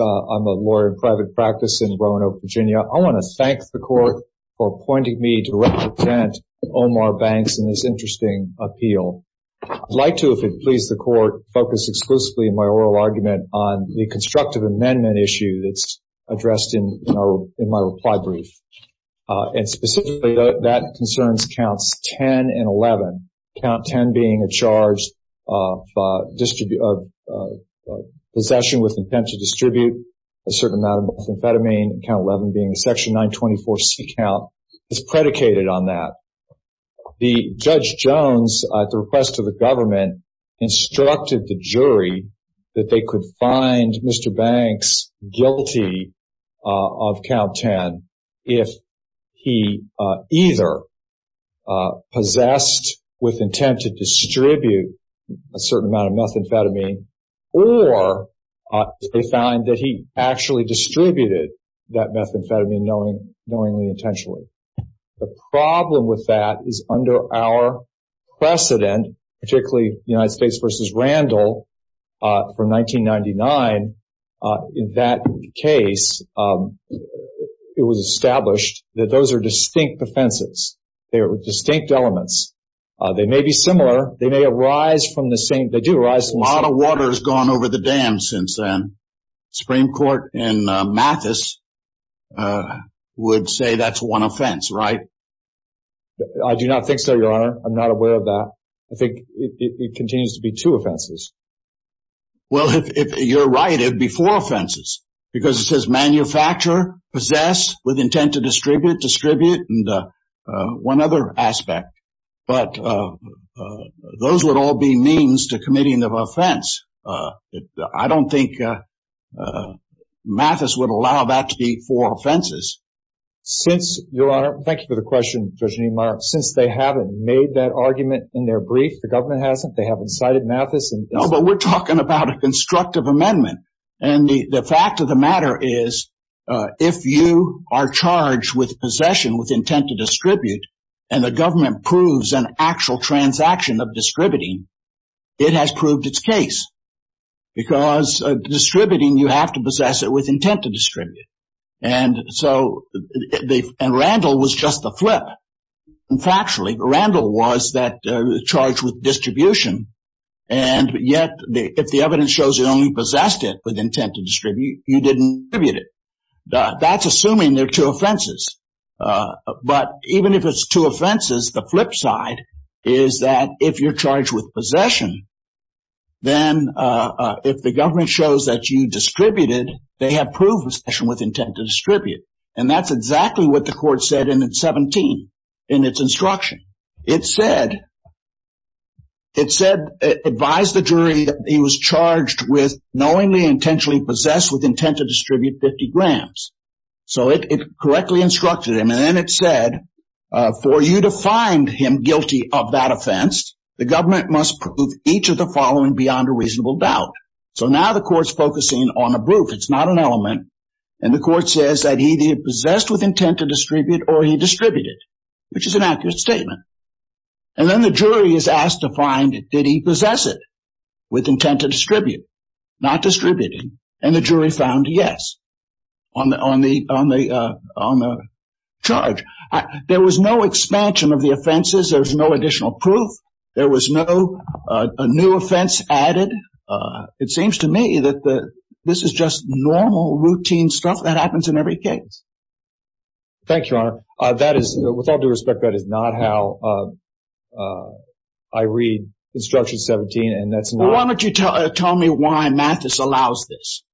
I'm a lawyer in private practice in Roanoke, Virginia. I want to thank the court for appointing me to represent Omar Banks in this interesting appeal. I'd like to, if it pleases the court, focus exclusively in my oral argument on the constructive amendment issue that's addressed in my reply brief. Specifically, that concerns counts 10 and 11. Count 10 being a charge of possession with intent to distribute a certain amount of methamphetamine. Count 11 being a section 924C count is predicated on that. The judge Jones, at the request of the government, instructed the jury that they could find Mr. Banks guilty of count 10 if he either possessed with intent to distribute a certain amount of methamphetamine or they found that he actually distributed that methamphetamine knowingly intentionally. The problem with that is under our precedent, particularly United States v. Randall from 1999. In that case, it was established that those are distinct offenses. They are distinct elements. They may be similar. They may arise from the same... A lot of water has gone over the dam since then. Supreme Court in Mathis would say that's one offense, right? I do not think so, Your Honor. I'm not aware of that. I think it continues to be two offenses. Well, you're right. It would be four offenses because it says manufacturer, possess with intent to distribute, distribute, and one other aspect. But those would all be means to committing of offense. I don't think Mathis would allow that to be four offenses. Your Honor, thank you for the question, Judge Neumeier. Since they haven't made that argument in their brief, the government hasn't, they haven't cited Mathis. No, but we're talking about a constructive amendment. And the fact of the matter is if you are charged with possession with intent to distribute, and the government proves an offense, it has proved its case. Because distributing, you have to possess it with intent to distribute. And Randall was just the flip. Factually, Randall was charged with distribution. And yet, if the evidence shows you only possessed it with intent to distribute, you didn't distribute it. That's assuming they're two offenses. But even if it's two offenses, the flip side is that if you're charged with possession, then if the government shows that you distributed, they have proved possession with intent to distribute. And that's exactly what the court said in 17, in its instruction. It said, it said, advise the jury that he was charged with knowingly intentionally possessed with intent to distribute 50 grams. So it correctly instructed him. And then it said, for you to find him guilty of that offense, the government must prove each of the following beyond a reasonable doubt. So now the court's focusing on a proof. It's not an element. And the court says that he possessed with intent to distribute, or he distributed, which is an accurate statement. And then the jury is asked to find did he possess with intent to distribute? Not distributing. And the jury found yes on the charge. There was no expansion of the offenses. There was no additional proof. There was no new offense added. It seems to me that this is just normal routine stuff that happens in every case. Thank you, Your Honor. That is, with all due respect, that is not how I read instruction 17. And that's not... Why don't you tell me why Mathis allows this?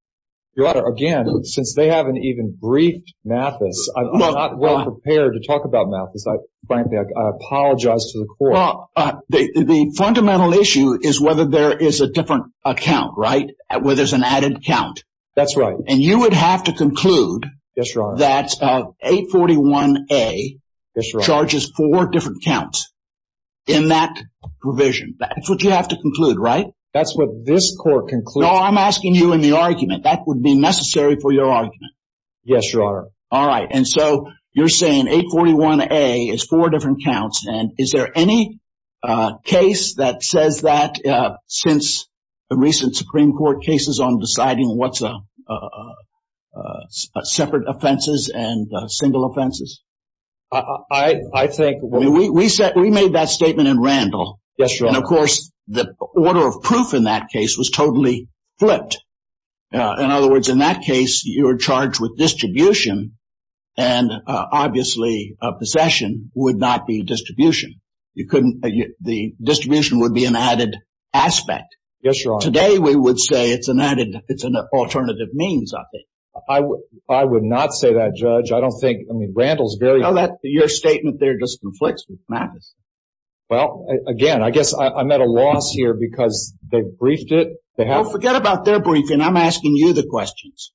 Your Honor, again, since they haven't even briefed Mathis, I'm not well prepared to talk about Mathis. Frankly, I apologize to the court. The fundamental issue is whether there is a different account, right? Where there's an 841A charges four different counts in that provision. That's what you have to conclude, right? That's what this court concluded. No, I'm asking you in the argument. That would be necessary for your argument. Yes, Your Honor. All right. And so you're saying 841A is four different counts. And is there any case that says that since the recent Supreme Court cases on deciding what's a separate offenses and single offenses? I think... We made that statement in Randall. Yes, Your Honor. And of course, the order of proof in that case was totally flipped. In other words, in that case, you were charged with distribution. And obviously, a possession would not be distribution. The distribution would be an added aspect. Yes, Your Honor. Today, we would say it's an added... It's an alternative means, I think. I would not say that, Judge. I don't think... I mean, Randall's very... Your statement there just conflicts with Mathis. Well, again, I guess I'm at a loss here because they briefed it. Well, forget about their briefing. I'm asking you the questions.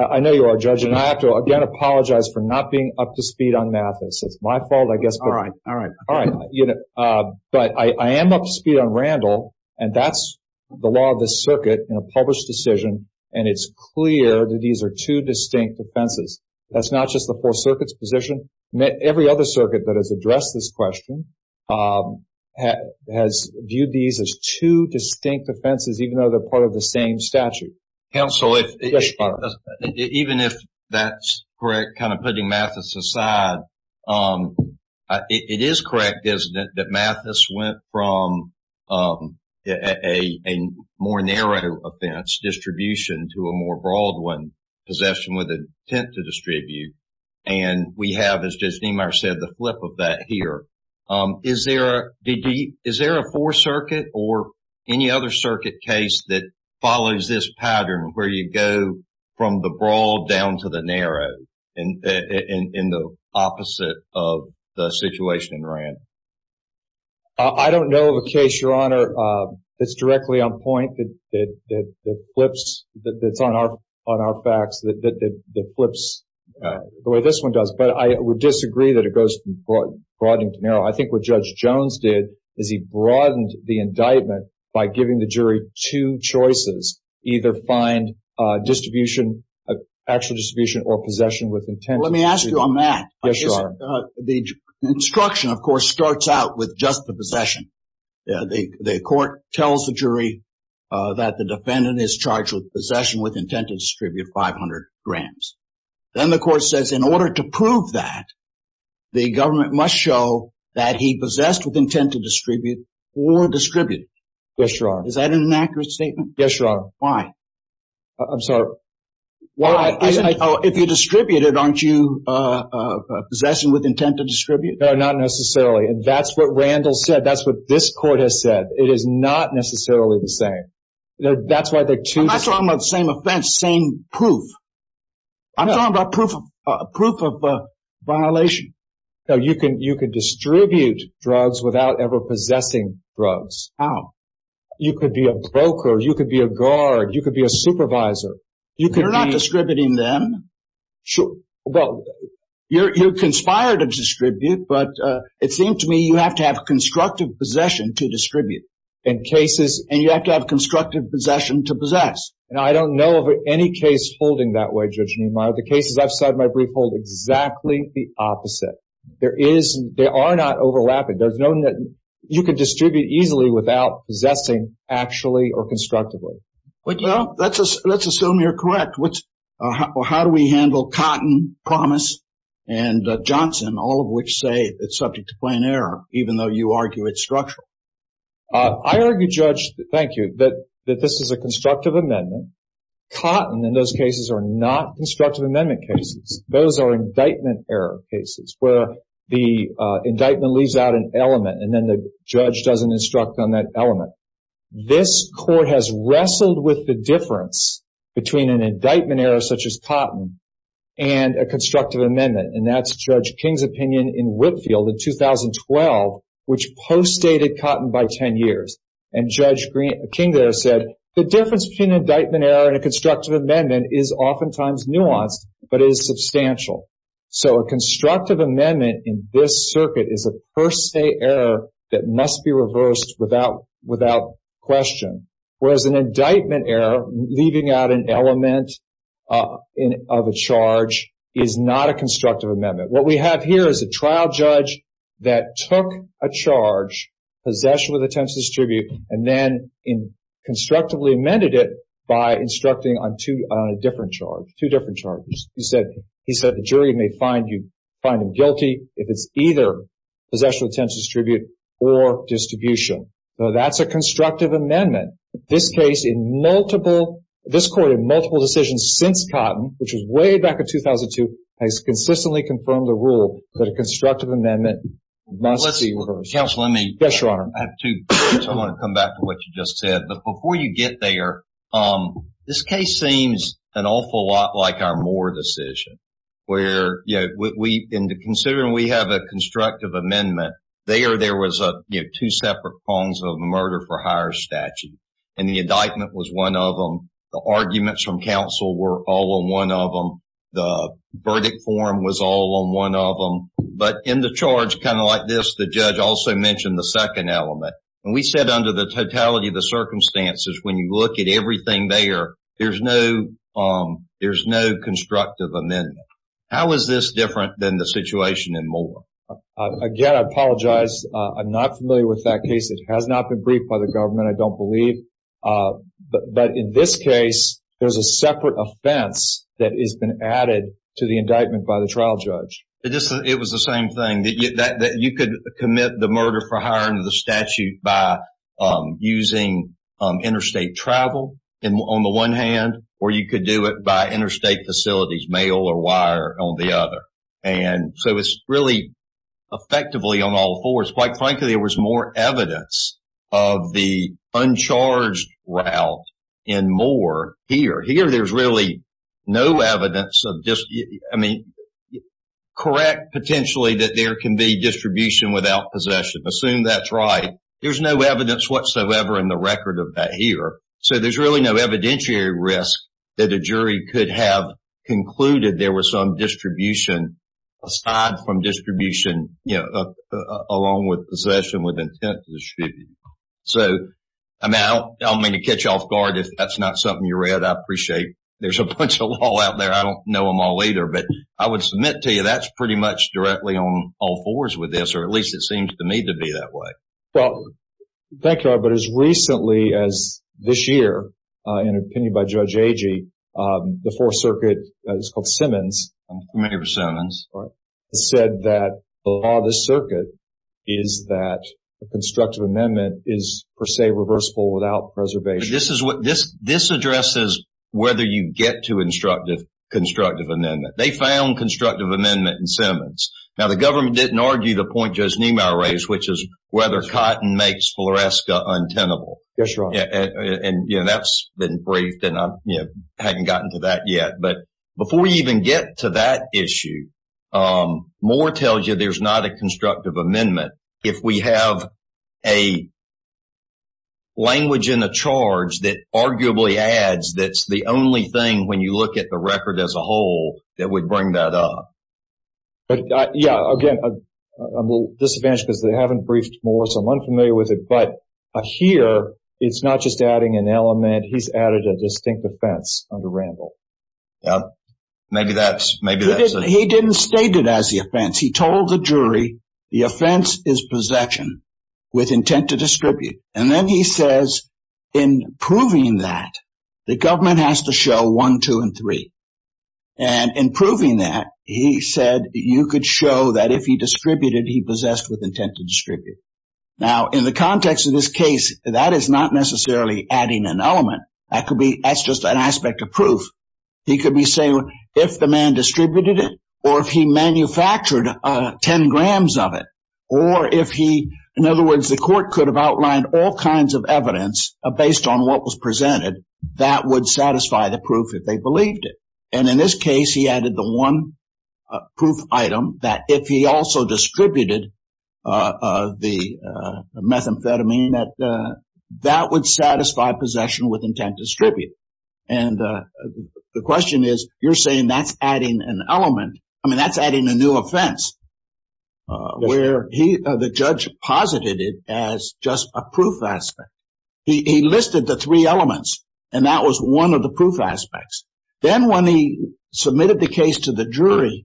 I know you are, Judge. And I have to, again, apologize for not being up to speed on Mathis. It's my fault, I guess. All right. All right. All right. But I am up to speed on Randall, and that's the law of the circuit in a published decision. And it's clear that these are two distinct offenses. That's not just the Fourth Circuit's position. Every other circuit that has addressed this question has viewed these as two distinct offenses, even though they're part of the same statute. Counsel, if... Yes, Your Honor. Even if that's correct, putting Mathis aside, it is correct, isn't it, that Mathis went from a more narrow offense, distribution, to a more broad one, possession with intent to distribute. And we have, as Judge Niemeyer said, the flip of that here. Is there a Fourth Circuit or any other circuit case that in the opposite of the situation in Randall? I don't know of a case, Your Honor, that's directly on point, that flips, that's on our facts, that flips the way this one does. But I would disagree that it goes from broadening to narrow. I think what Judge Jones did is he broadened the indictment by giving the jury two choices, either find distribution, actual distribution or possession with intent. Let me ask you on that. Yes, Your Honor. The instruction, of course, starts out with just the possession. The court tells the jury that the defendant is charged with possession with intent to distribute 500 grams. Then the court says in order to prove that, the government must show that he possessed with intent to distribute or distributed. Yes, Your Honor. Is that an accurate statement? Yes, Your Honor. Why? I'm sorry. Why? If you distributed, aren't you possessing with intent to distribute? No, not necessarily. That's what Randall said. That's what this court has said. It is not necessarily the same. That's why there are two... I'm not proof of violation. You can distribute drugs without ever possessing drugs. How? You could be a broker, you could be a guard, you could be a supervisor. You're not distributing them. Sure. Well, you're conspired to distribute, but it seemed to me you have to have constructive possession to distribute. In cases... And you have to have constructive possession to possess. And I don't know of any case holding that way, Judge Neumeier. The cases I've said in my brief hold exactly the opposite. There is... They are not overlapping. There's no... You could distribute easily without possessing actually or constructively. Well, let's assume you're correct. How do we handle Cotton, Promise, and Johnson, all of which say it's subject to plan error, even though you argue it's structural? I argue, Judge, thank you, that this is a constructive amendment. Cotton, in those cases, are not constructive amendment cases. Those are indictment error cases, where the indictment leaves out an element and then the judge doesn't instruct on that element. This court has wrestled with the difference between an indictment error such as Cotton and a constructive amendment. And that's Judge King's opinion in Whitfield in 2012, which post-stated Cotton by 10 years. And Judge King there said, the difference between indictment error and a constructive amendment is oftentimes nuanced, but it is substantial. So, a constructive amendment in this circuit is a per se error that must be reversed without question. Whereas an indictment error, leaving out an element of a charge, is not a constructive amendment. What we have here is a trial judge that took a charge, possession with attempts to distribute, and then constructively amended it by instructing on two different charges. He said the jury may find him guilty if it's either possession with attempts to distribute or distribution. So, that's a constructive amendment. This case in multiple, this court in multiple decisions since Cotton, which was way back in 2002, has consistently confirmed the rule that a constructive amendment must be reversed. Counsel, let me... Yes, Your Honor. I have two points. I want to come back to what you just said. But before you get there, this case seems an awful lot like our Moore decision, where, you know, we, in considering we have a constructive amendment, there was two separate forms of murder for hire statute. And the indictment was one of them. The arguments from counsel were all on one of them. The verdict form was all on one of them. But in the charge, kind of like this, the judge also mentioned the second element. And we said under the totality of the circumstances, when you look at everything there, there's no constructive amendment. How is this different than the situation in Moore? Again, I apologize. I'm not familiar with that case. It has not been briefed by the government, I don't believe. But in this case, there's a separate offense that has been added to the indictment by the trial judge. It was the same thing, that you could commit the murder for hiring of the statute by using interstate travel on the one hand, or you could do it by interstate facilities, mail or wire on the other. And so it's really effectively on all fours. Quite frankly, there was more evidence of the uncharged route in Moore here. Here, there's really no evidence of just, I mean, correct potentially that there can be distribution without possession. Assume that's right. There's no evidence whatsoever in the some distribution aside from distribution along with possession with intent to distribute. So, I mean, I don't mean to catch you off guard if that's not something you read. I appreciate there's a bunch of law out there. I don't know them all either. But I would submit to you that's pretty much directly on all fours with this, or at least it seems to me to be that way. Well, thank you. But as recently as this year, in an opinion by Judge Agee, the Fourth Circuit, it's called Simmons. I'm familiar with Simmons. Said that the law of the circuit is that a constructive amendment is per se reversible without preservation. This addresses whether you get to constructive amendment. They found constructive amendment in Simmons. Now, the government didn't argue the point Judge Niemeyer raised, which is whether cotton makes floresca untenable. Yes, Your Honor. And that's been briefed and I haven't gotten to that yet. But before we even get to that issue, Moore tells you there's not a constructive amendment. If we have a language in the charge that arguably adds that's the only thing when you look at the record as a whole that would bring that up. But yeah, again, I'm a little disadvantaged because they haven't briefed Moore, so I'm unfamiliar with it. But here, it's not just adding an element. He's added a distinct offense under Randall. Yeah, maybe that's it. He didn't state it as the offense. He told the jury the offense is possession with intent to distribute. And then he says in proving that the government has to show one, two, and three. And in proving that, he said you could show that if he distributed, he possessed with intent to distribute. Now, in the context of this case, that is not necessarily adding an element. That's just an aspect of proof. He could be saying if the man distributed it, or if he manufactured 10 grams of it, or if he, in other words, the court could have outlined all kinds of evidence based on what was presented, that would satisfy the proof if they believed it. And in this case, he added the one proof item that if he also distributed the methamphetamine, that would satisfy possession with intent to distribute. And the question is, you're saying that's adding an element. I mean, that's adding a new offense where the judge posited it as just a proof aspect. He listed the three elements, and that was one of the proof aspects. Then when he submitted the case to the jury,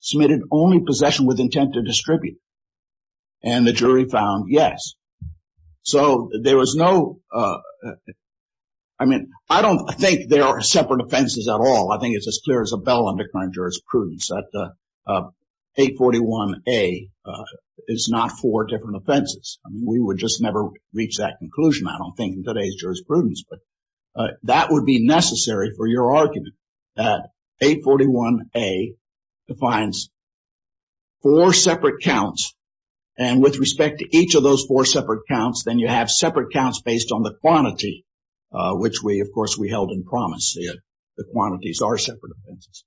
submitted only possession with intent to distribute. And the jury found yes. So there was no, I mean, I don't think there are separate offenses at all. I think it's as clear as a bell under current jurisprudence that 841A is not four different offenses. We would just never reach that conclusion, I don't think, in today's jurisprudence. But that would be necessary for your argument that 841A defines four separate counts, and with respect to each of those four separate counts, then you have separate counts based on the quantity, which we, of course, we held in promise. The quantities are separate offenses.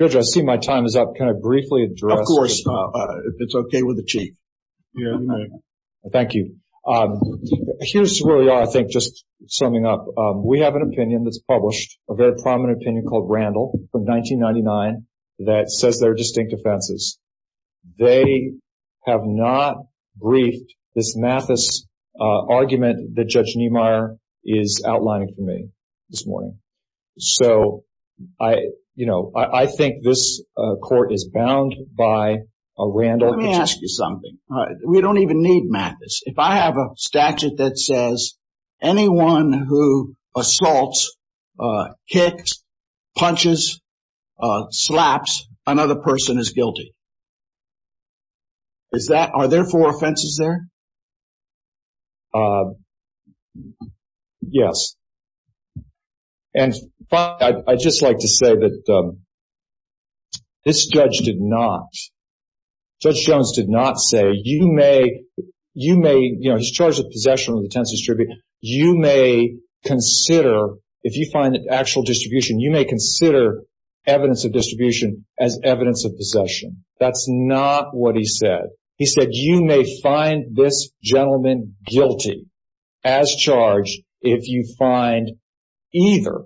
Judge, I see my time is up. Can I briefly address? Of course, if it's okay with the Chief. Thank you. Here's where we are, I think, just summing up. We have an opinion that's published, a very prominent opinion called Randall from 1999 that says they're distinct offenses. They have not briefed this Mathis argument that Judge Niemeyer is Randall. Let me ask you something. We don't even need Mathis. If I have a statute that says anyone who assaults, kicks, punches, slaps another person is guilty. Are there four offenses there? Yes. And I'd just like to say that this judge did not, Judge Jones did not say, you may, you know, he's charged with possession of the 10th distribution. You may consider, if you find an actual distribution, you may consider evidence of distribution as evidence of possession. That's not what he said. He said, you may find this gentleman guilty as charged if you find either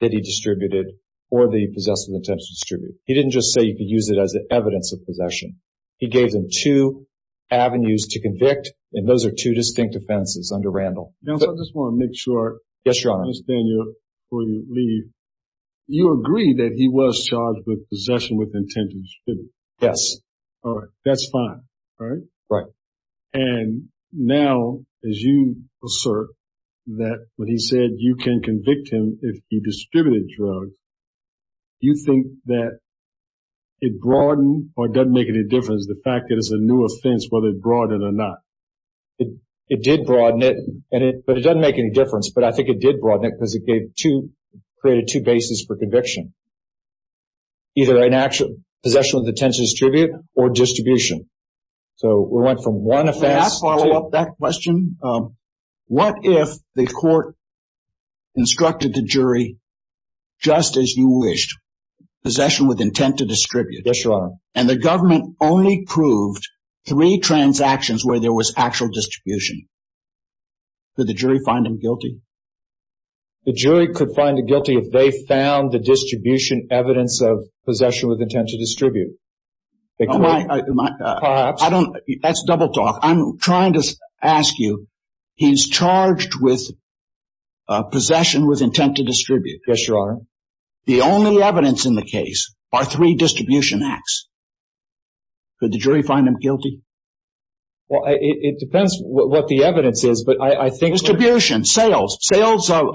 that he distributed or the possessive intent to distribute. He didn't just say you could use it as evidence of possession. He gave them two avenues to convict, and those are two distinct offenses under Randall. Now, I just want to make sure, Mr. Daniel, before you leave, you agree that he was charged with possession with intent to distribute? Yes. All right. That's fine, right? Right. And now, as you assert that when he said you can convict him if he distributed drugs, you think that it broadened, or it doesn't make any difference, the fact that it's a new offense, whether it broadened or not? It did broaden it, but it doesn't make any difference. But I think it did broaden it because it gave two, created two bases for conviction, either an actual possession of the 10th distribution or distribution. So, we went from one offense. May I follow up that question? What if the court instructed the jury, just as you wished, possession with intent to distribute? Yes, Your Honor. And the government only proved three transactions where there was actual distribution. Could the jury find him guilty? The jury could find him guilty if they found the distribution evidence of possession with intent to distribute. That's double talk. I'm trying to ask you, he's charged with possession with intent to distribute. Yes, Your Honor. The only evidence in the case are three distribution acts. Could the jury find him guilty? Well, it depends what the evidence is, but I think distribution, sales, sales of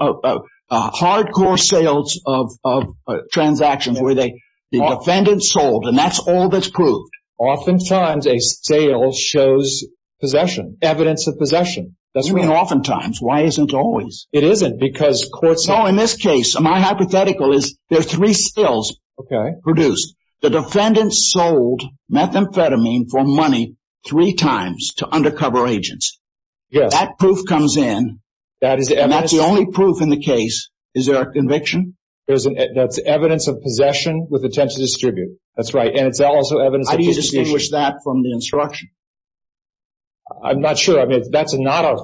hardcore sales of transactions where the defendant sold and that's all that's proved. Oftentimes, a sale shows possession, evidence of possession. You mean oftentimes, why isn't it always? It isn't because courts... No, in this case, my hypothetical is there are three sales produced. The defendant sold methamphetamine for money three times to the jury. And that's the only proof in the case? Is there a conviction? That's evidence of possession with intent to distribute. That's right. And it's also evidence... How do you distinguish that from the instruction? I'm not sure. I mean,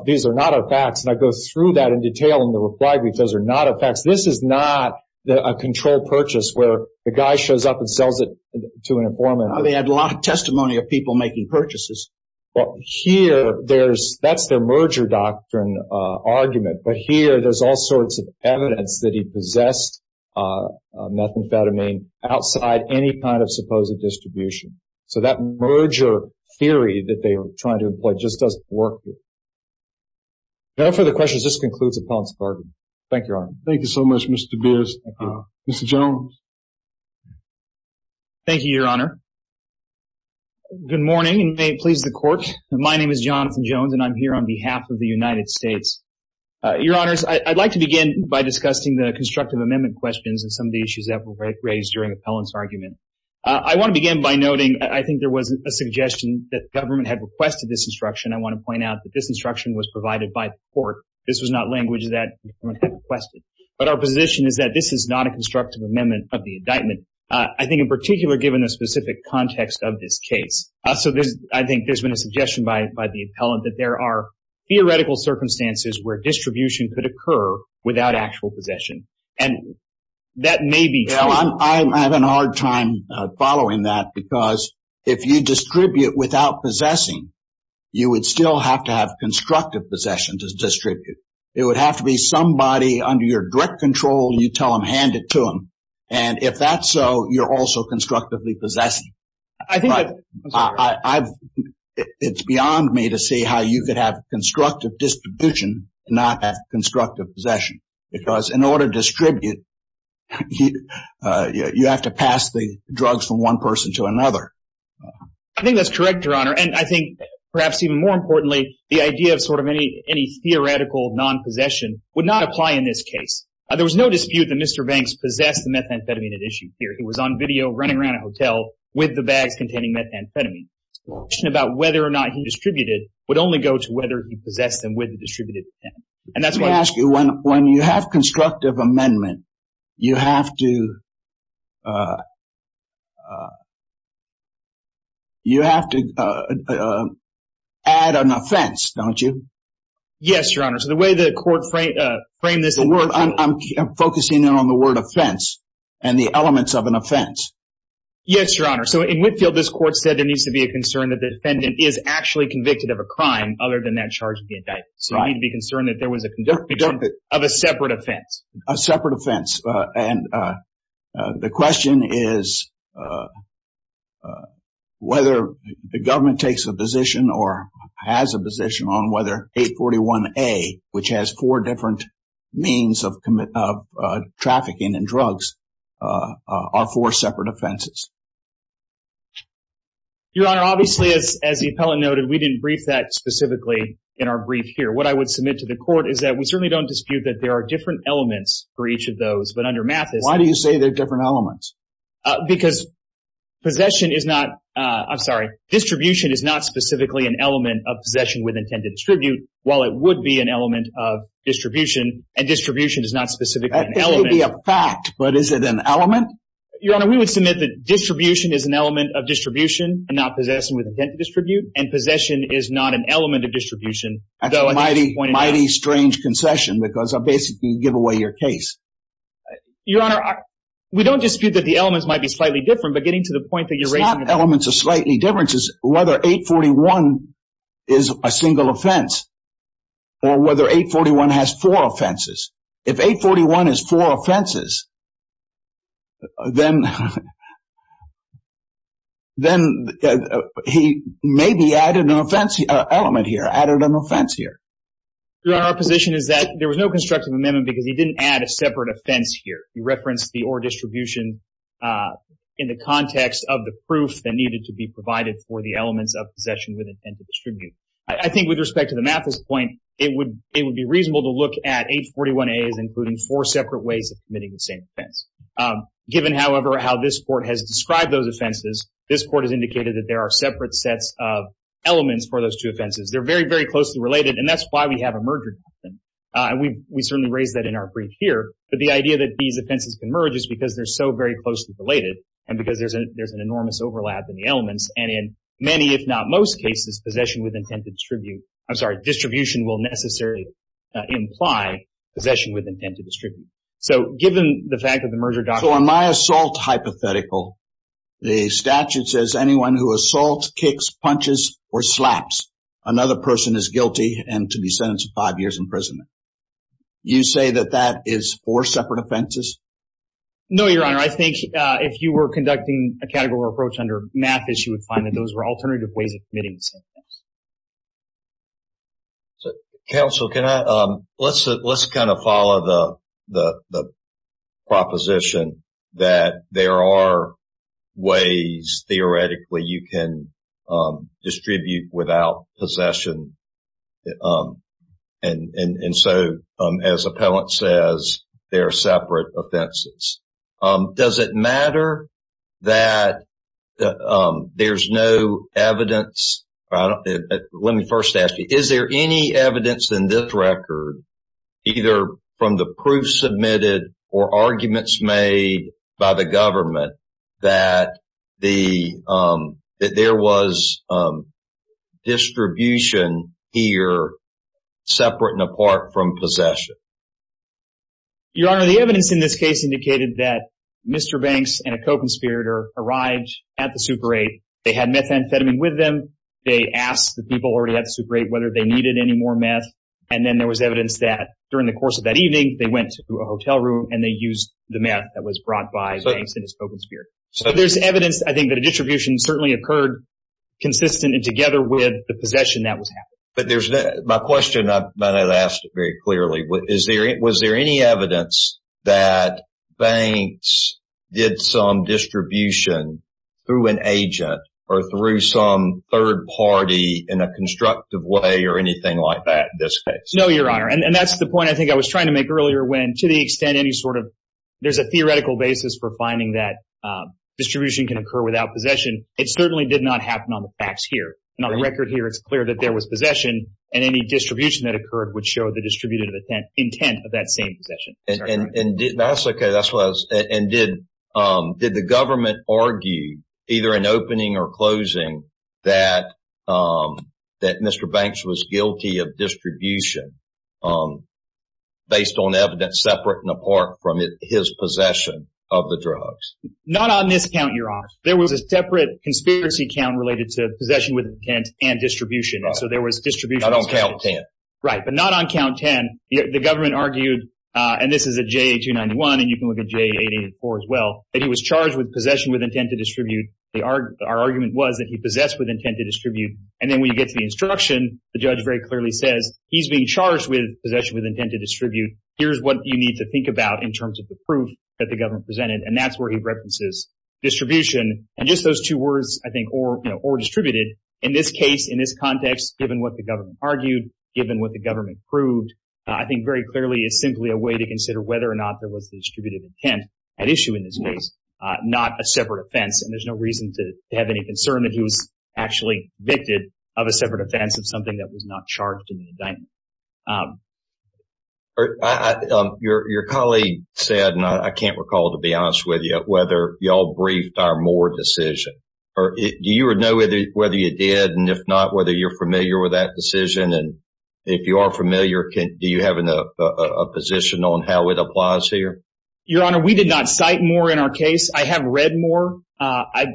these are not our facts. And I go through that in detail in the reply because they're not our facts. This is not a controlled purchase where the guy shows up and sells it to an informant. They had a lot of testimony of people making purchases. Well, here, that's their merger doctrine argument. But here, there's all sorts of evidence that he possessed methamphetamine outside any kind of supposed distribution. So that merger theory that they were trying to employ just doesn't work. No further questions. This concludes the points of argument. Thank you, Your Honor. Thank you so much, Mr. Beers. Mr. Jones. Thank you, Your Honor. Good morning, and may it please the court. My name is Jonathan Jones, and I'm here on behalf of the United States. Your Honors, I'd like to begin by discussing the constructive amendment questions and some of the issues that were raised during the appellant's argument. I want to begin by noting, I think there was a suggestion that the government had requested this instruction. I want to point out that this instruction was provided by the court. This was not language that the government had requested. But our position is that this is not a constructive amendment of the indictment. I think in particular, given the specific context of this case. So I think there's been a suggestion by the appellant that there are theoretical circumstances where distribution could occur without actual possession. And that may be true. Well, I have a hard time following that because if you distribute without possessing, you would still have to have constructive possession to distribute. It would have to somebody under your direct control, you tell them, hand it to them. And if that's so, you're also constructively possessing. It's beyond me to see how you could have constructive distribution, not have constructive possession. Because in order to distribute, you have to pass the drugs from one person to another. I think that's correct, Your Honor. And I think perhaps even more importantly, the idea of sort of any theoretical non-possession would not apply in this case. There was no dispute that Mr. Banks possessed the methamphetamine at issue here. He was on video running around a hotel with the bags containing methamphetamine. The question about whether or not he distributed would only go to whether he possessed them with the distributed methamphetamine. Let me ask you, when you have constructive amendment, you have to add an offense, don't you? Yes, Your Honor. So the way the court framed this... I'm focusing in on the word offense and the elements of an offense. Yes, Your Honor. So in Whitfield, this court said there needs to be a concern that the defendant is actually convicted of a crime other than that charge of the indictment. So you need to be concerned that there was a conviction of a separate offense. A separate offense. And the question is whether the government takes a position or has a position on whether 841A, which has four different means of trafficking and drugs, are four separate offenses. Your Honor, obviously, as the appellant noted, we didn't brief that specifically in our brief here. What I would submit to the court is that we certainly don't dispute that there are different elements for each of those. Why do you say there are different elements? Because distribution is not specifically an element of possession with intent to distribute, while it would be an element of distribution, and distribution is not specifically an element. That may be a fact, but is it an element? Your Honor, we would submit that distribution is an element of distribution and not possession with intent to distribute, and possession is an element of distribution. That's a mighty strange concession, because I basically give away your case. Your Honor, we don't dispute that the elements might be slightly different, but getting to the point that you're raising... It's not elements of slightly difference. It's whether 841 is a single offense or whether 841 has four offenses. If 841 has four offenses, then he maybe added an offense element here, added an offense here. Your Honor, our position is that there was no constructive amendment because he didn't add a separate offense here. He referenced the or distribution in the context of the proof that needed to be provided for the elements of possession with intent to distribute. I think with respect to the Mathis point, it would be reasonable to look at 841A as including four ways of committing the same offense. Given, however, how this Court has described those offenses, this Court has indicated that there are separate sets of elements for those two offenses. They're very, very closely related, and that's why we have a merger doctrine. We certainly raised that in our brief here, but the idea that these offenses can merge is because they're so very closely related and because there's an enormous overlap in the elements. In many, if not most cases, possession with intent to distribute... I'm sorry, distribution will necessarily imply possession with intent to distribute. So given the fact that the merger doctrine... So in my assault hypothetical, the statute says anyone who assaults, kicks, punches, or slaps another person is guilty and to be sentenced to five years imprisonment. You say that that is four separate offenses? No, Your Honor. I think if you were conducting a categorical approach under Mathis, you would find that those were alternative ways of committing the same offense. Counsel, can I... Let's kind of follow the proposition that there are ways, theoretically, you can distribute without possession. And so, as Appellant says, they're separate offenses. Does it matter that there's no evidence... Let me first ask you, is there any evidence in this record, either from the proof submitted or arguments made by the government, that there was distribution here separate and apart from possession? Your Honor, the evidence in this case indicated that Mr. Banks and a co-conspirator arrived at the Super 8. They had methamphetamine with them. They asked the people already at the Super 8 whether they needed any more meth. And then there was evidence that during the course of that evening, they went to a hotel room and they used the meth that was brought by Banks and his co-conspirator. So there's evidence, I think, that a distribution certainly occurred consistent and together with the possession that was happening. But there's... My question, I might not have asked it very clearly, was there any evidence that Banks did some distribution through an agent or through some third party in a constructive way or anything like that in this case? No, Your Honor. And that's the point I think I was trying to make earlier when, to the extent, any sort of... There's a theoretical basis for finding that distribution can occur without possession. It certainly did not happen on the facts here. And on the record here, it's clear that there was possession and any distribution that occurred would show the distributed intent of that same possession. And did... That's okay. That's what I was... And did the government argue either in opening or closing that Mr. Banks was guilty of distribution based on evidence separate and apart from his possession of the drugs? Not on this count, Your Honor. There was a separate conspiracy count related to possession and distribution. So there was distribution... Not on count 10. Right. But not on count 10. The government argued, and this is a JA-291 and you can look at JA-884 as well, that he was charged with possession with intent to distribute. Our argument was that he possessed with intent to distribute. And then when you get to the instruction, the judge very clearly says, he's being charged with possession with intent to distribute. Here's what you need to think about in terms of the proof that the government presented. And that's where he references distribution. And just those two words, I think, or distributed in this case, in this context, given what the government argued, given what the government proved, I think very clearly is simply a way to consider whether or not there was the distributed intent at issue in this case, not a separate offense. And there's no reason to have any concern that he was actually convicted of a separate offense of something that was not charged in the indictment. Your colleague said, and I can't recall, to be honest with you, whether y'all briefed our Moore decision. Do you know whether you did, and if not, whether you're familiar with that decision? And if you are familiar, do you have a position on how it applies here? Your Honor, we did not cite Moore in our case. I have read Moore. I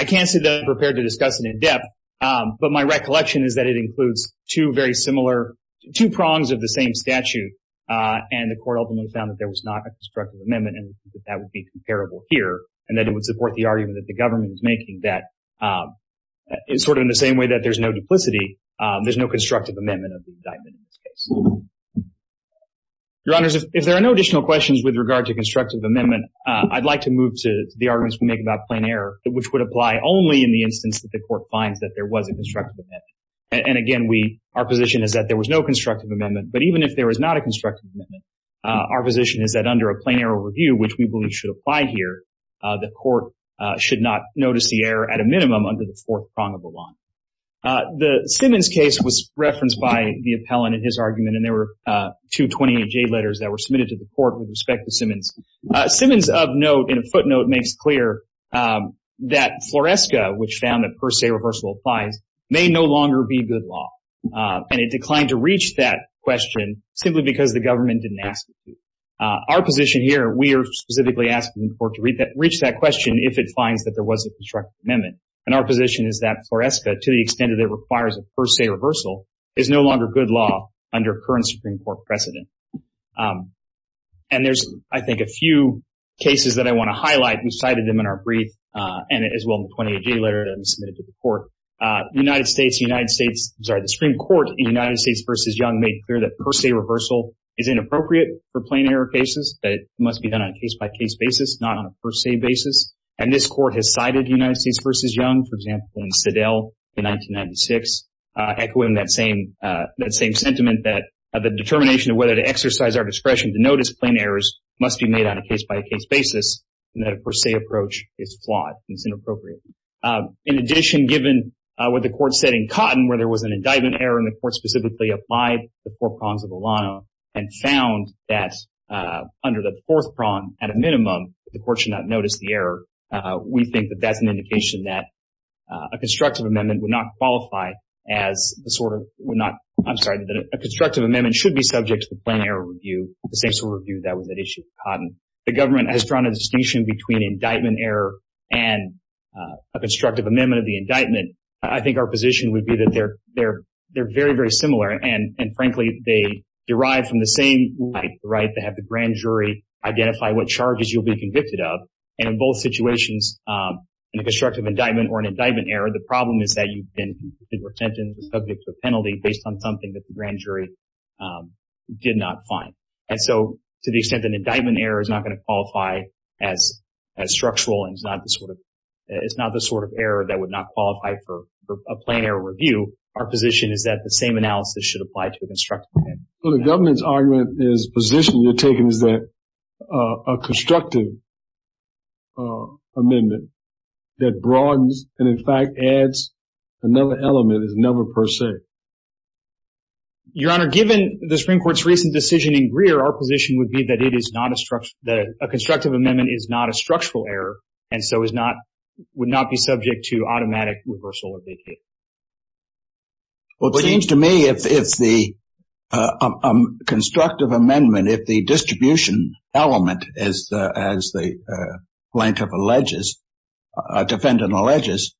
can't say that I'm prepared to discuss it in depth, but my recollection is that it includes two very similar cases. Two prongs of the same statute, and the court ultimately found that there was not a constructive amendment, and we think that that would be comparable here, and that it would support the argument that the government was making that, sort of in the same way that there's no duplicity, there's no constructive amendment of the indictment in this case. Your Honors, if there are no additional questions with regard to constructive amendment, I'd like to move to the arguments we make about plain error, which would apply only in the instance that the court finds that there was a constructive amendment. And again, our position is that there was no constructive amendment, but even if there was not a constructive amendment, our position is that under a plain error review, which we believe should apply here, the court should not notice the error at a minimum under the fourth prong of the law. The Simmons case was referenced by the appellant in his argument, and there were two 28-J letters that were submitted to the court with respect to Simmons. Simmons of note, in a footnote, makes clear that FLORESCA, which found that per se reversal applies, may no longer be good law. And it declined to reach that question simply because the government didn't ask it to. Our position here, we are specifically asking the court to reach that question if it finds that there was a constructive amendment. And our position is that FLORESCA, to the extent that it requires a per se reversal, is no longer good law under current Supreme Court precedent. And there's, I think, a few cases that I want to highlight, we cited them in our brief, and as well in the 28-J letter that was submitted to the court. United States, the United States, sorry, the Supreme Court in United States v. Young made clear that per se reversal is inappropriate for plain error cases, that it must be done on a case-by-case basis, not on a per se basis. And this court has cited United States v. Young, for example, in Sedell in 1996, echoing that same sentiment that the determination of whether to exercise our discretion to notice plain errors must be made on a case-by-case basis, and that, per se, approach is flawed. It's inappropriate. In addition, given what the court said in Cotton, where there was an indictment error, and the court specifically applied the four prongs of the law and found that under the fourth prong, at a minimum, the court should not notice the error, we think that that's an indication that a constructive amendment would not qualify as the sort of, would not, I'm sorry, that a constructive amendment should be subject to the plain error review, the same sort of review that was at issue in Cotton. The government has drawn a distinction between indictment error and a constructive amendment of the indictment. I think our position would be that they're very, very similar, and frankly, they derive from the same right to have the grand jury identify what charges you'll be convicted of, and in both situations, in a constructive indictment or an indictment error, the problem is that you've been convicted or sentenced or subject to a penalty based on something that the not going to qualify as structural, and it's not the sort of error that would not qualify for a plain error review. Our position is that the same analysis should apply to a constructive amendment. So the government's argument is, position you're taking is that a constructive amendment that broadens and, in fact, adds another element is never per se. Your Honor, given the Supreme Court's recent decision in Greer, our position would be that a constructive amendment is not a structural error and so would not be subject to automatic reversal of the case. Well, it seems to me if the constructive amendment, if the distribution element, as the plaintiff alleges, defendant alleges,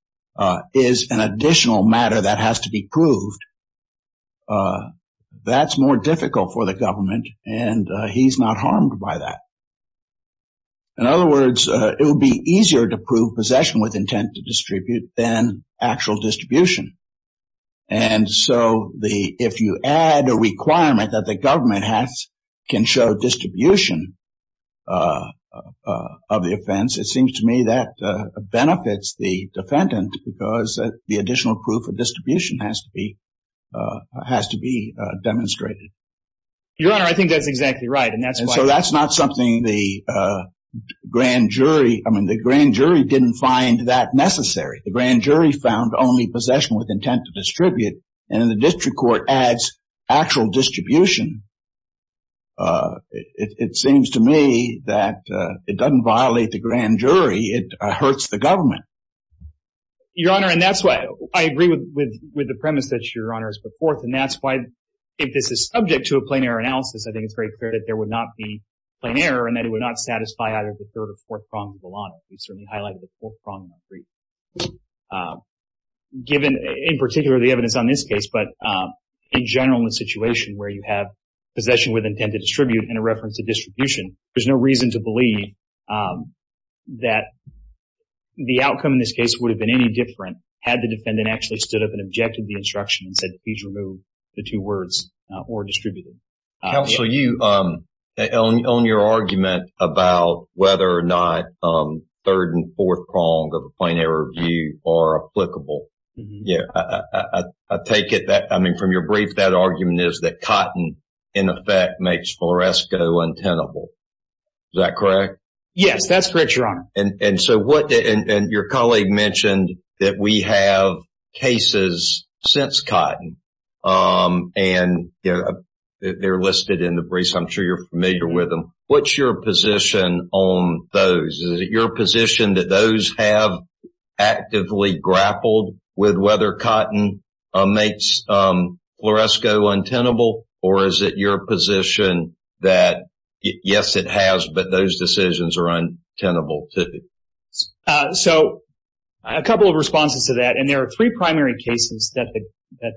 is an additional matter that has to be by that. In other words, it would be easier to prove possession with intent to distribute than actual distribution, and so if you add a requirement that the government can show distribution of the offense, it seems to me that benefits the defendant because the additional proof of distribution has to be demonstrated. Your Honor, I think that's exactly right, and so that's not something the grand jury, I mean, the grand jury didn't find that necessary. The grand jury found only possession with intent to distribute, and the district court adds actual distribution. It seems to me that it doesn't violate the grand jury. It hurts the government. Your Honor, and that's why I agree with the premise that Your Honor has put forth, and that's why if this is subject to a plain error analysis, I think it's very clear that there would not be plain error, and that it would not satisfy either the third or fourth prong of the law. We certainly highlighted the fourth prong in our brief. Given, in particular, the evidence on this case, but in general in a situation where you have possession with intent to distribute and a reference to distribution, there's no reason to believe that the outcome in this case would have been any different had the defendant actually stood up and objected and said, please remove the two words or distributed. Counsel, on your argument about whether or not third and fourth prong of the plain error view are applicable, I take it that, I mean, from your brief, that argument is that cotton, in effect, makes floresco untenable. Is that correct? Yes, that's correct, Your Honor. And your colleague mentioned that we have cases since cotton, and they're listed in the briefs. I'm sure you're familiar with them. What's your position on those? Is it your position that those have actively grappled with whether cotton makes floresco untenable, or is it your position that, yes, it has, but those decisions are untenable, too? So, a couple of responses to that, and there are three primary cases that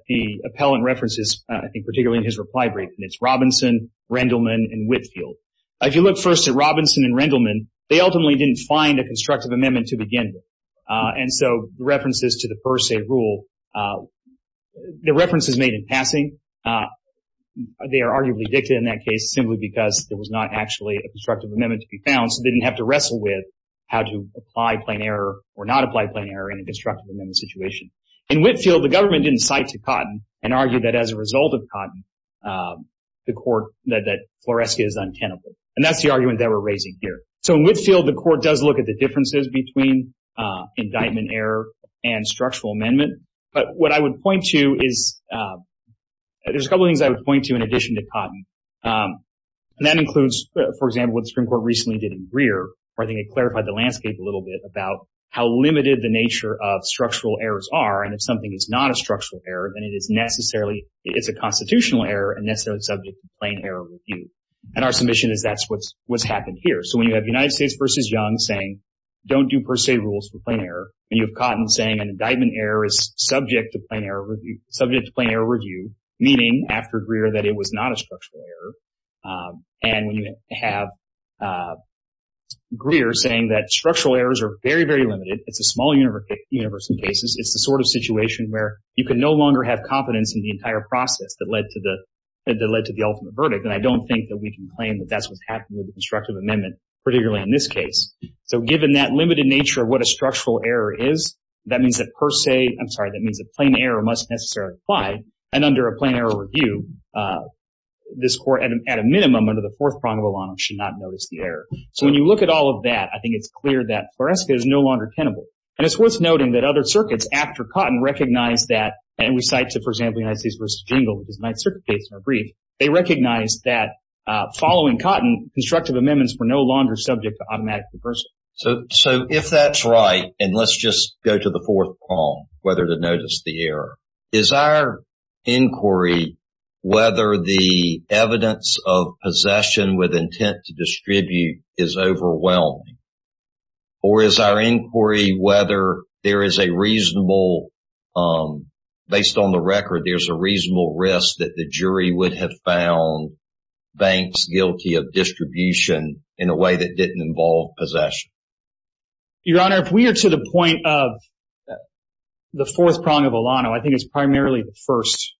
the appellant references, I think, particularly in his reply brief, and it's Robinson, Rendleman, and Whitfield. If you look first at Robinson and Rendleman, they ultimately didn't find a constructive amendment to begin with, and so references to the per se rule, the reference is made in passing. They are arguably dictated in that case simply because there was not actually a to wrestle with how to apply plain error or not apply plain error in a constructive amendment situation. In Whitfield, the government didn't cite to cotton and argued that as a result of cotton, the court, that floresco is untenable. And that's the argument that we're raising here. So, in Whitfield, the court does look at the differences between indictment error and structural amendment, but what I would point to is, there's a couple of things I would point to in addition to cotton, and that includes, for example, what the Supreme Court recently did in Greer, where I think it clarified the landscape a little bit about how limited the nature of structural errors are, and if something is not a structural error, then it is necessarily, it's a constitutional error and necessarily subject to plain error review. And our submission is that's what's happened here. So, when you have United States v. Young saying, don't do per se rules for plain error, and you have Cotton saying an indictment error is subject to plain error review, meaning after Greer that it was not a structural error, and when you have Greer saying that structural errors are very, very limited, it's a small universe in cases, it's the sort of situation where you can no longer have confidence in the entire process that led to the ultimate verdict, and I don't think that we can claim that that's what's happened with the constructive amendment, particularly in this case. So, given that limited nature of what a structural error is, that means that per se, I'm sorry, that means that plain error must necessarily apply, and under a plain error review, this Court, at a minimum, under the fourth prong of a law, should not notice the error. So, when you look at all of that, I think it's clear that Floresca is no longer tenable, and it's worth noting that other circuits after Cotton recognized that, and we cite to, for example, United States v. Jingle, because the Ninth Circuit case in our brief, they recognized that following Cotton, constructive amendments were no longer subject to automatic reversal. So, if that's right, and let's just go to the fourth prong, whether to inquiry whether the evidence of possession with intent to distribute is overwhelming, or is our inquiry whether there is a reasonable, based on the record, there's a reasonable risk that the jury would have found Banks guilty of distribution in a way that didn't involve possession? Your Honor, if we are to the point of the fourth prong of Alano, I think it's primarily the first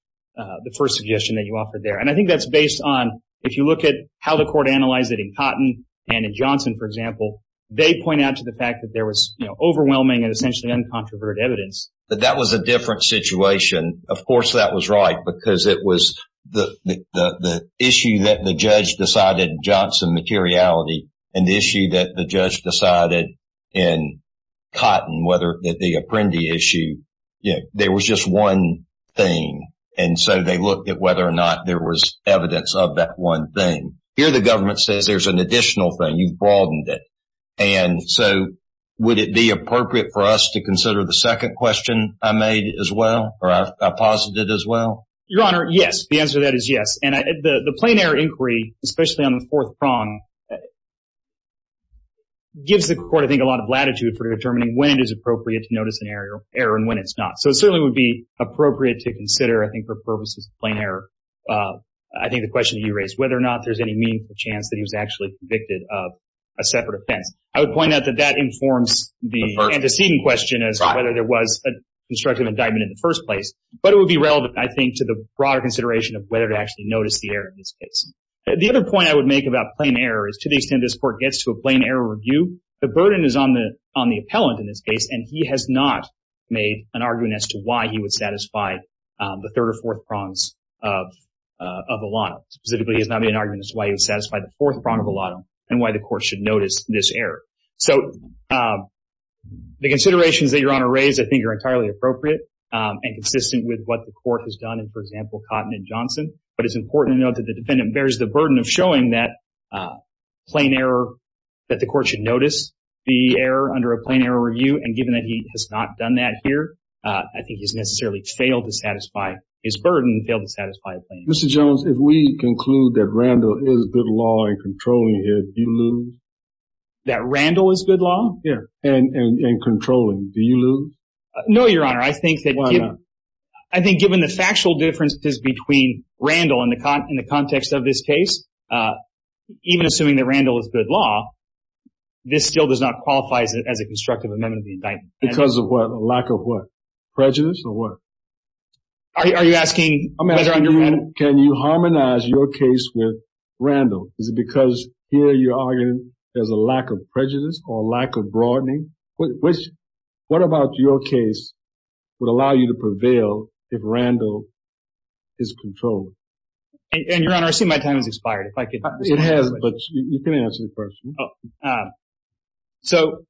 suggestion that you offered there. And I think that's based on, if you look at how the Court analyzed it in Cotton and in Johnson, for example, they point out to the fact that there was overwhelming and essentially uncontroverted evidence. But that was a different situation. Of course, that was right, because it was the issue that the judge decided in Johnson, materiality, and the issue that the judge decided in Cotton, whether the Apprendi issue, there was just one thing. And so, they looked at whether or not there was evidence of that one thing. Here, the government says there's an additional thing. You've broadened it. And so, would it be appropriate for us to consider the second question I made as well, or I posited as well? Your Honor, yes. The answer to that is yes. And the plain error inquiry, especially on the fourth prong, gives the Court, I think, a lot of latitude for determining when it is appropriate to notice an error and when it's not. So, it certainly would be appropriate to consider, I think, for purposes of plain error. I think the question you raised, whether or not there's any meaningful chance that he was actually convicted of a separate offense. I would point out that that informs the antecedent question as to whether there was a constructive indictment in the first place. But it would be relevant, I think, to the broader consideration of whether to actually notice the error in this case. The other point I would make about plain error is, to the extent this Court gets to a plain error review, the burden is on the appellant in this case. And I think the Court should be aware that the defendant has not made an argument as to why he would satisfy the third or fourth prongs of a lot. Specifically, he has not made an argument as to why he would satisfy the fourth prong of a lot and why the Court should notice this error. So, the considerations that Your Honor raised, I think, are entirely appropriate and consistent with what the Court has done in, for example, Cotton and Johnson. But it's important to note that the defendant bears the burden of showing that plain error, that the Court should notice the error under a plain error review. And given that he has not done that here, I think he's necessarily failed to satisfy his burden, failed to satisfy a plain error. Mr. Jones, if we conclude that Randall is good law and controlling it, do you lose? That Randall is good law? Yeah. And controlling, do you lose? No, Your Honor. I think that... Why not? I think given the factual differences between Randall in the context of this case, even assuming that Randall is good law, this still does not qualify as a constructive amendment of the indictment. Because of what? A lack of what? Prejudice or what? Are you asking... Can you harmonize your case with Randall? Is it because here you're arguing there's a lack of if Randall is controlling? And Your Honor, I see my time has expired. If I could... It has, but you can answer the question. So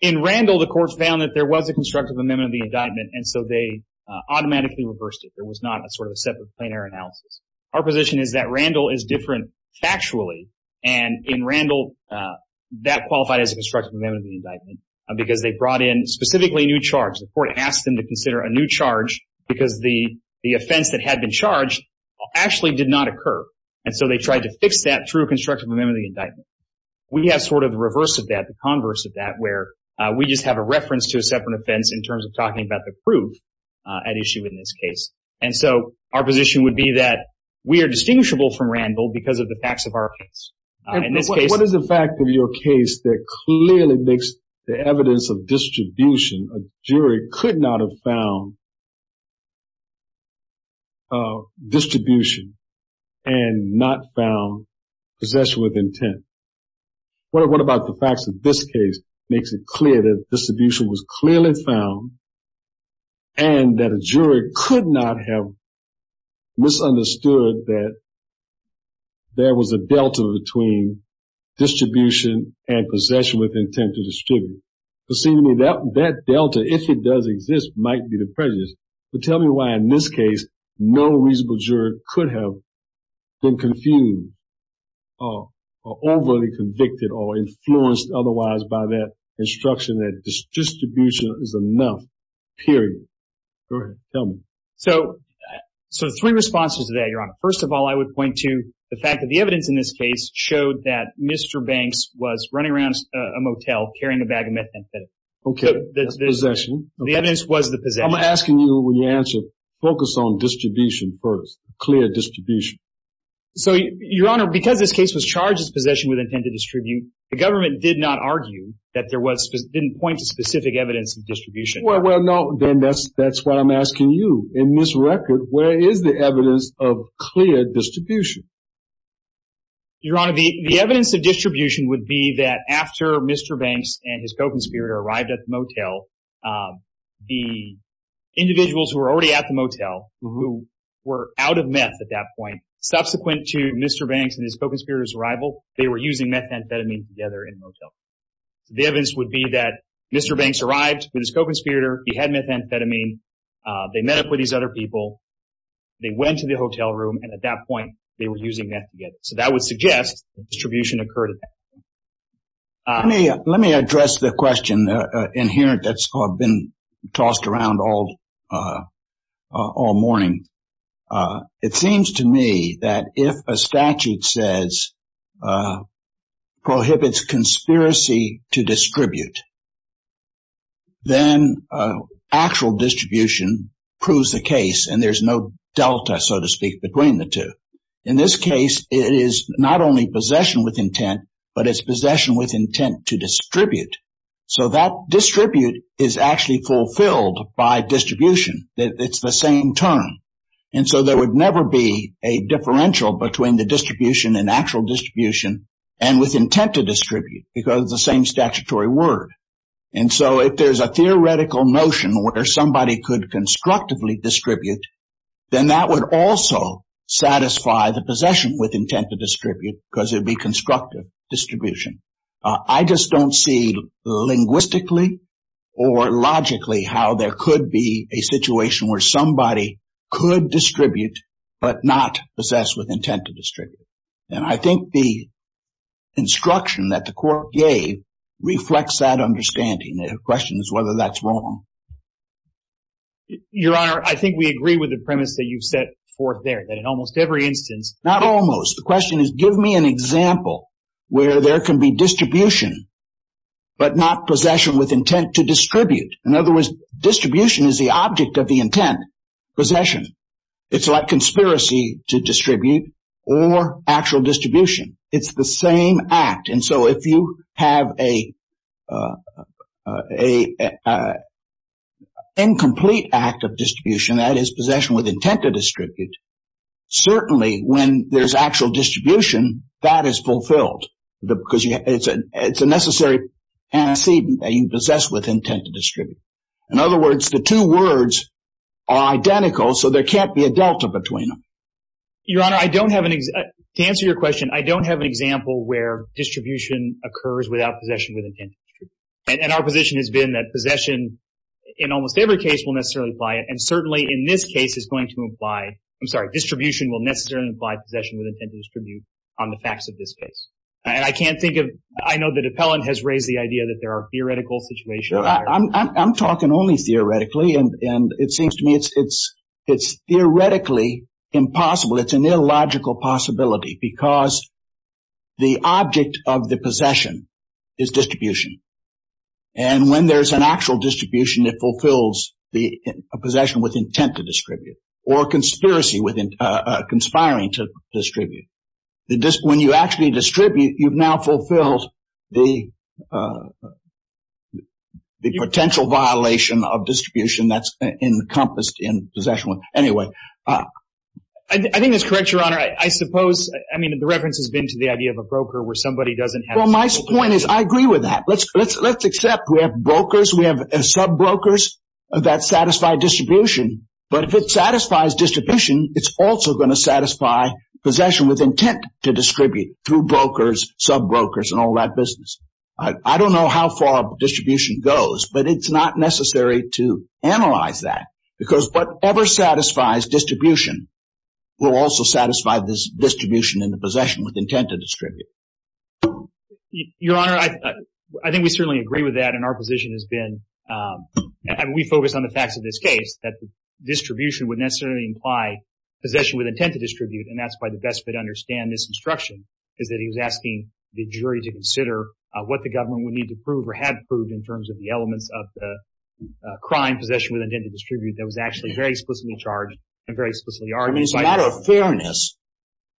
in Randall, the Court found that there was a constructive amendment of the indictment, and so they automatically reversed it. There was not a sort of a separate plain error analysis. Our position is that Randall is different factually. And in Randall, that qualified as a constructive amendment of the indictment because they brought in specifically a new charge. The Court asked them to consider a new charge because the offense that had been charged actually did not occur. And so they tried to fix that through a constructive amendment of the indictment. We have sort of the reverse of that, the converse of that, where we just have a reference to a separate offense in terms of talking about the proof at issue in this case. And so our position would be that we are distinguishable from Randall because of the facts of our case. In this case... Could not have found distribution and not found possession with intent. What about the facts of this case makes it clear that distribution was clearly found and that a jury could not have misunderstood that there was a delta between distribution and possession with intent to distribute. That delta, if it does exist, might be the prejudice. But tell me why in this case no reasonable juror could have been confused or overly convicted or influenced otherwise by that instruction that distribution is enough, period. Go ahead, tell me. So three responses to that, Your Honor. First of all, I would point to the fact that the evidence in this case showed that Mr. Banks was running around a motel carrying a bag of methamphetamine. Okay, possession. The evidence was the possession. I'm asking you when you answer, focus on distribution first, clear distribution. So, Your Honor, because this case was charged as possession with intent to distribute, the government did not argue that there was, didn't point to specific evidence of distribution. Well, no, then that's what I'm asking you. In this record, where is the evidence of Your Honor, the evidence of distribution would be that after Mr. Banks and his co-conspirator arrived at the motel, the individuals who were already at the motel, who were out of meth at that point, subsequent to Mr. Banks and his co-conspirator's arrival, they were using methamphetamine together in the motel. The evidence would be that Mr. Banks arrived with his co-conspirator, he had methamphetamine, they met up with these other people, they went to the motel, and they were using methamphetamine together. And that's what I'm asking you. Let me address the question in here that's been tossed around all morning. It seems to me that if a statute says, prohibits conspiracy to distribute, then actual distribution proves the case, and there's no delta, so to speak, between the two. In this case, it is not only possession with intent, but it's possession with intent to distribute. So that distribute is actually fulfilled by distribution. It's the same term. And so there would never be a differential between the distribution and actual distribution and with intent to distribute, because it's the same statutory word. And so if there's a theoretical notion where somebody could constructively distribute, then that would also satisfy the possession with intent to distribute, because it would be constructive distribution. I just don't see linguistically or logically how there could be a situation where somebody could distribute but not possess with intent to distribute. And I think the instruction that the court gave reflects that understanding. The question is whether that's wrong. Your Honor, I think we agree with the premise that you've set forth there, that in almost every instance... Not almost. The question is, give me an example where there can be distribution but not possession with intent to distribute. In other words, distribution is the object of the intent, possession. It's like conspiracy to distribute or actual distribution. It's the same act. And so if you have a incomplete act of distribution, that is possession with intent to distribute, certainly when there's actual distribution, that is fulfilled because it's a necessary antecedent that you possess with intent to distribute. In other words, the two words are identical, so there can't be a delta between them. Your Honor, to answer your question, I don't have an example where distribution occurs without possession with intent to distribute. And our position has been that possession in almost every case will necessarily apply, and certainly in this case is going to imply... I'm sorry, distribution will necessarily imply possession with intent to distribute on the facts of this case. And I can't think of... I know the appellant has raised the idea that there are theoretical situations... No, I'm talking only theoretically, and it seems to me it's theoretically impossible. It's an illogical possibility because the object of the possession is distribution. And when there's an actual distribution, it fulfills a possession with intent to distribute or conspiracy, conspiring to distribute. When you actually distribute, you've now fulfilled the potential violation of distribution that's encompassed in possession. Anyway, I think that's correct, Your Honor. I suppose, I mean, the reference has been to the idea of a broker where somebody doesn't have... Well, my point is I agree with that. Let's accept we have brokers, we have sub-brokers that satisfy distribution. But if it satisfies distribution, it's also going to satisfy possession with intent to distribute through brokers, sub-brokers, and all that business. I don't know how far distribution goes, but it's not necessary to distribute. But if it satisfies distribution, it will also satisfy this distribution in the possession with intent to distribute. Your Honor, I think we certainly agree with that, and our position has been... We focus on the facts of this case, that the distribution would necessarily imply possession with intent to distribute, and that's why the best way to understand this instruction is that he was asking the jury to consider what the government would need to prove or had proved in terms of the elements of the crime possession with intent to distribute that was actually very explicitly charged and very explicitly argued. I mean, as a matter of fairness,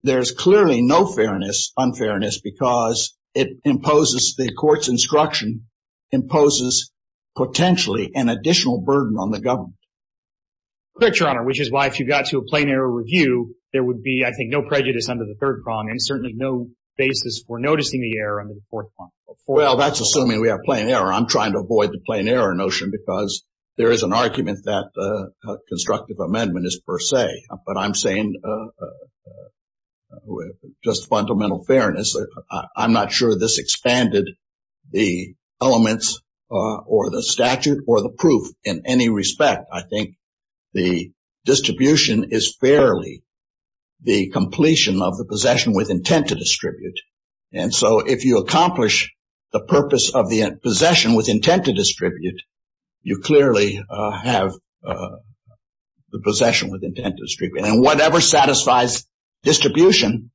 there's clearly no fairness, unfairness, because it imposes the court's instruction, imposes potentially an additional burden on the government. Correct, Your Honor, which is why if you got to a plain error review, there would be, I think, no prejudice under the third prong and certainly no basis for noticing the error under the fourth prong. Well, that's assuming we have plain error. I'm trying to avoid the plain error notion because there is an argument that a constructive amendment is per se, but I'm saying just fundamental fairness. I'm not sure this expanded the elements or the statute or the proof in any respect. I think the distribution is fairly the completion of the possession with intent to distribute, and so if you accomplish the purpose of the possession with intent to distribute, you clearly have the possession with intent to distribute. And whatever satisfies distribution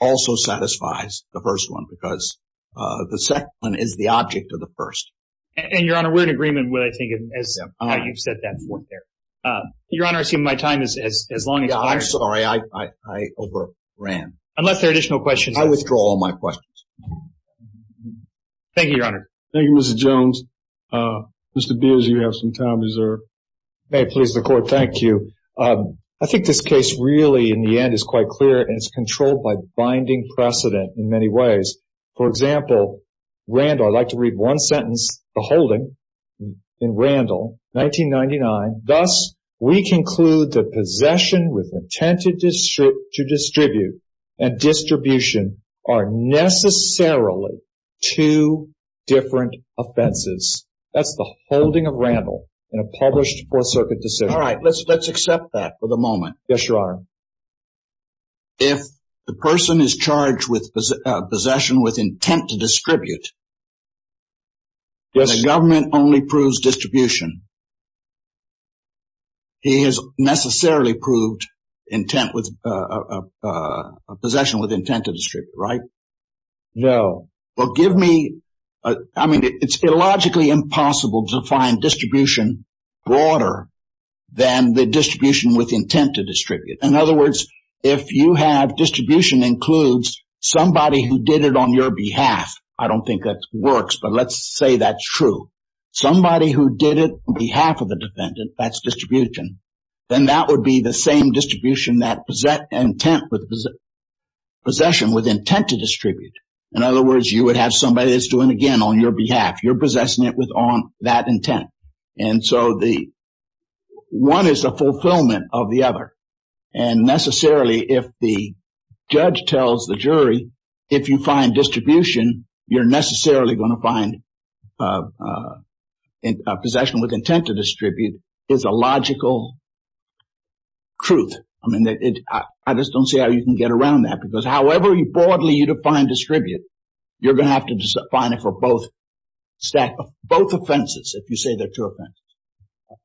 also satisfies the first one, because the second one is the object of the first. And, Your Honor, we're in agreement with, I think, how you've set that forth there. Your Honor, I assume my time is as long as... Yeah, I'm sorry. I overran. Unless there are additional questions. I withdraw all my questions. Thank you, Your Honor. Thank you, Mr. Jones. Mr. Beers, you have some time reserved. May it please the Court, thank you. I think this case really, in the end, is quite clear, and it's controlled by binding precedent in many ways. For example, Randall, I'd like to read one sentence, the holding, in Randall, 1999. Thus, we conclude that possession with intent to distribute and distribution are necessarily two different offenses. That's the holding of Randall in a published Fourth Circuit decision. All right, let's accept that for the moment. Yes, Your Honor. If the person is charged with possession with intent to distribute, the government only proves distribution. He has necessarily proved possession with intent to distribute, right? No. Well, give me... I mean, it's illogically impossible to find distribution broader than the distribution with intent to distribute. In other words, if you have distribution includes somebody who did it on your behalf. I don't think that works, but let's say that's true. Somebody who did it on behalf of the defendant, that's distribution, then that would be the In other words, you would have somebody that's doing it again on your behalf. You're possessing it with that intent. And so, one is the fulfillment of the other. And necessarily, if the judge tells the jury, if you find distribution, you're necessarily going to find possession with intent to distribute is a logical truth. I mean, I just don't see how you can get around that. However broadly you define distribute, you're going to have to find it for both stack, both offenses, if you say they're two offenses.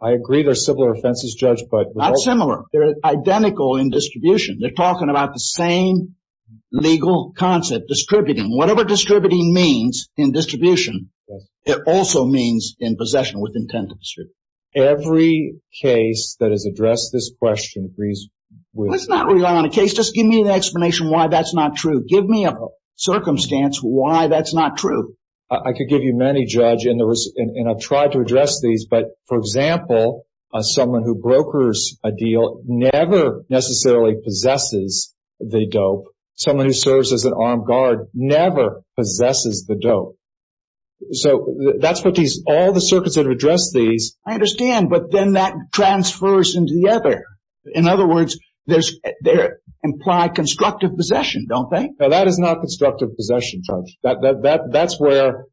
I agree. They're similar offenses, Judge, but... Not similar. They're identical in distribution. They're talking about the same legal concept, distributing. Whatever distributing means in distribution, it also means in possession with intent to distribute. Every case that has addressed this question agrees with... Let's not rely on a case. Just give me an explanation why that's not true. Give me a circumstance why that's not true. I could give you many, Judge, and I've tried to address these, but for example, someone who brokers a deal never necessarily possesses the dope. Someone who serves as an armed guard never possesses the dope. So, that's what these... All the circuits that have addressed these... I understand, but then that transfers into the other. In other words, they imply constructive possession, don't they? No, that is not constructive possession, Judge. That's where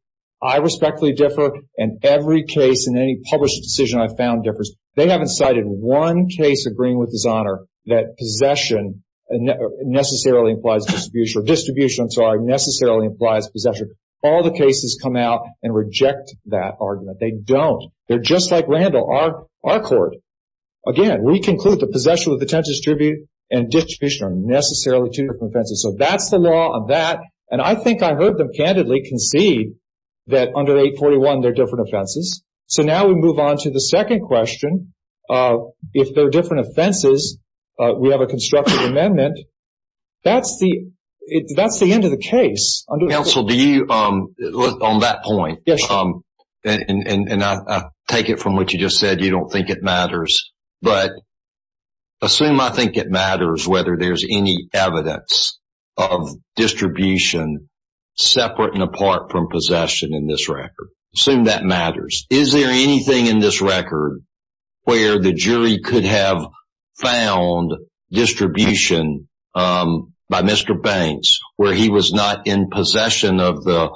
I respectfully differ, and every case in any published decision I've found differs. They haven't cited one case agreeing with His Honor that possession necessarily implies distribution, or distribution, I'm sorry, necessarily implies possession. All the cases come out and reject that argument. They don't. They're just like Randall, our court. Again, we conclude that possession with the intent to distribute and distribution are necessarily two different offenses. So, that's the law on that, and I think I heard them candidly concede that under 841 they're different offenses. So, now we move on to the second question. If they're different offenses, we have a constructive amendment. That's the end of the case. Counsel, do you, on that point, and I take it from what you just said, you don't think it matters, but assume I think it matters whether there's any evidence of distribution separate and apart from possession in this record. Assume that matters. Is there anything in this record where the jury could have found distribution by Mr. Banks where he was not in possession of the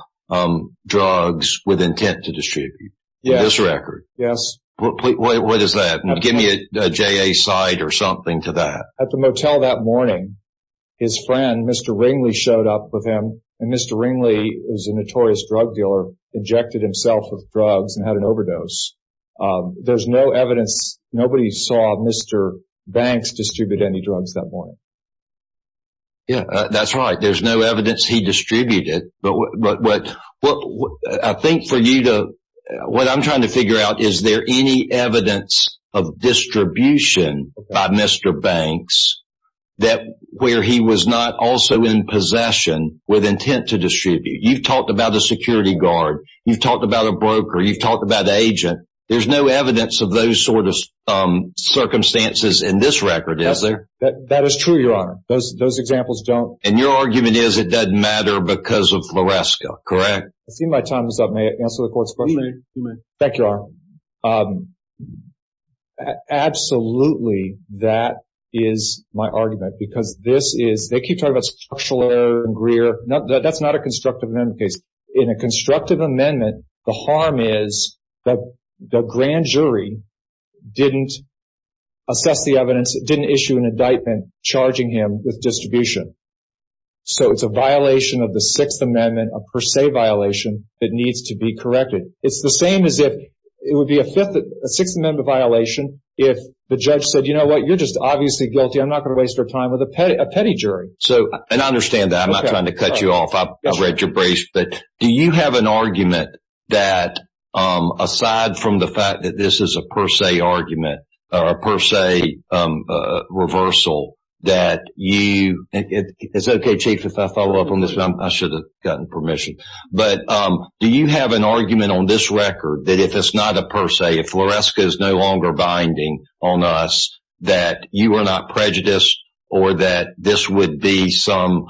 drugs with intent to distribute? In this record? Yes. What is that? Give me a JA side or something to that. At the motel that morning, his friend, Mr. Ringley, showed up with him, and Mr. Ringley is a notorious drug dealer, injected himself with drugs and had an overdose. There's no evidence. Nobody saw Mr. Banks distribute any drugs that morning. Yeah, that's right. There's no evidence he distributed, but I think for you to, what I'm trying to figure out, is there any evidence of distribution by Mr. Banks where he was not also in possession with intent to distribute? You've talked about a security guard. You've talked about a broker. You've talked about an agent. There's no evidence of those sort of circumstances in this record, is there? That is true, Your Honor. Those examples don't- And your argument is it doesn't matter because of Floresca, correct? I see my time is up. May I answer the court's question? You may. Thank you, Your Honor. Absolutely, that is my argument because this is- They keep talking about structural error and Greer. That's not a constructive amendment case. In a constructive amendment, the harm is the grand jury didn't assess the evidence, didn't issue an indictment charging him with distribution. So it's a violation of the Sixth Amendment, a per se violation that needs to be corrected. It's the same as if it would be a Sixth Amendment violation if the judge said, you know what, you're just obviously guilty. I'm not going to waste our time with a petty jury. And I understand that. I'm not trying to cut you off. I've read your briefs. But do you have an argument that aside from the fact that this is a per se argument or a per se reversal that you- It's okay, Chief, if I follow up on this. I should have gotten permission. But do you have an argument on this record that if it's not a per se, if Floresca is no longer binding on us, that you are not prejudiced or that this would be some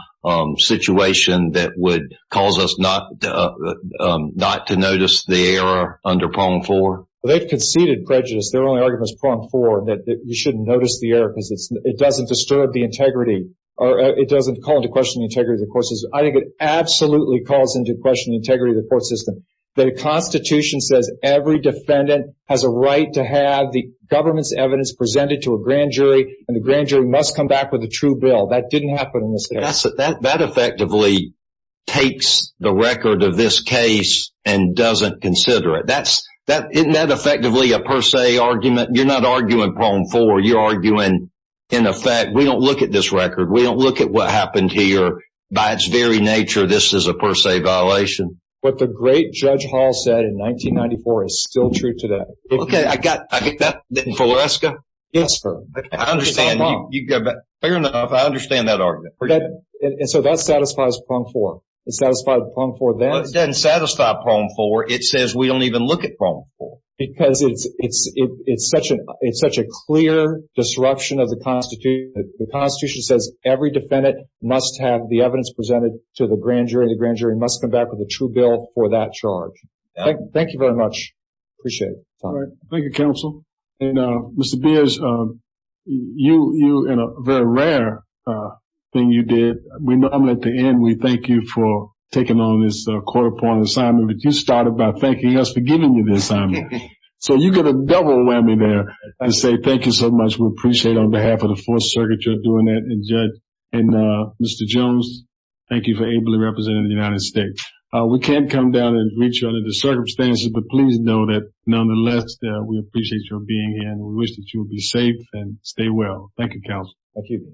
situation that would cause us not to notice the error under Prong 4? They've conceded prejudice. Their only argument is Prong 4, that you shouldn't notice the error because it doesn't disturb the integrity or it doesn't call into question the integrity of the courses. I think it absolutely calls into question the integrity of the court system. The Constitution says every defendant has a right to have the government's evidence presented to a grand jury, and the grand jury must come back with a true bill. That didn't happen in this case. That effectively takes the record of this case and doesn't consider it. Isn't that effectively a per se argument? You're not arguing Prong 4. You're arguing, in effect, we don't look at this record. We don't look at what happened here. By its very nature, this is a per se violation. What the great Judge Hall said in 1994 is still true today. Okay, I get that. Floresca? Yes, sir. I understand. Fair enough. I understand that argument. So that satisfies Prong 4. It satisfies Prong 4 then. It doesn't satisfy Prong 4. It says we don't even look at Prong 4. Because it's such a clear disruption of the Constitution. The Constitution says every defendant must have the evidence presented to the grand jury. The grand jury must come back with a true bill for that charge. Thank you very much. Appreciate it. All right. Thank you, counsel. And Mr. Beers, you, in a very rare thing you did, I'm going to end. We thank you for taking on this quarter point assignment. But you started by thanking us for giving you this assignment. So you get a double whammy there. I say thank you so much. We appreciate it. On behalf of the Fourth Circuit, you're doing that. And Mr. Jones, thank you for ably representing the United States. We can't come down and reach you under the circumstances. But please know that nonetheless, we appreciate your being here. And we wish that you will be safe and stay well. Thank you, counsel. Thank you.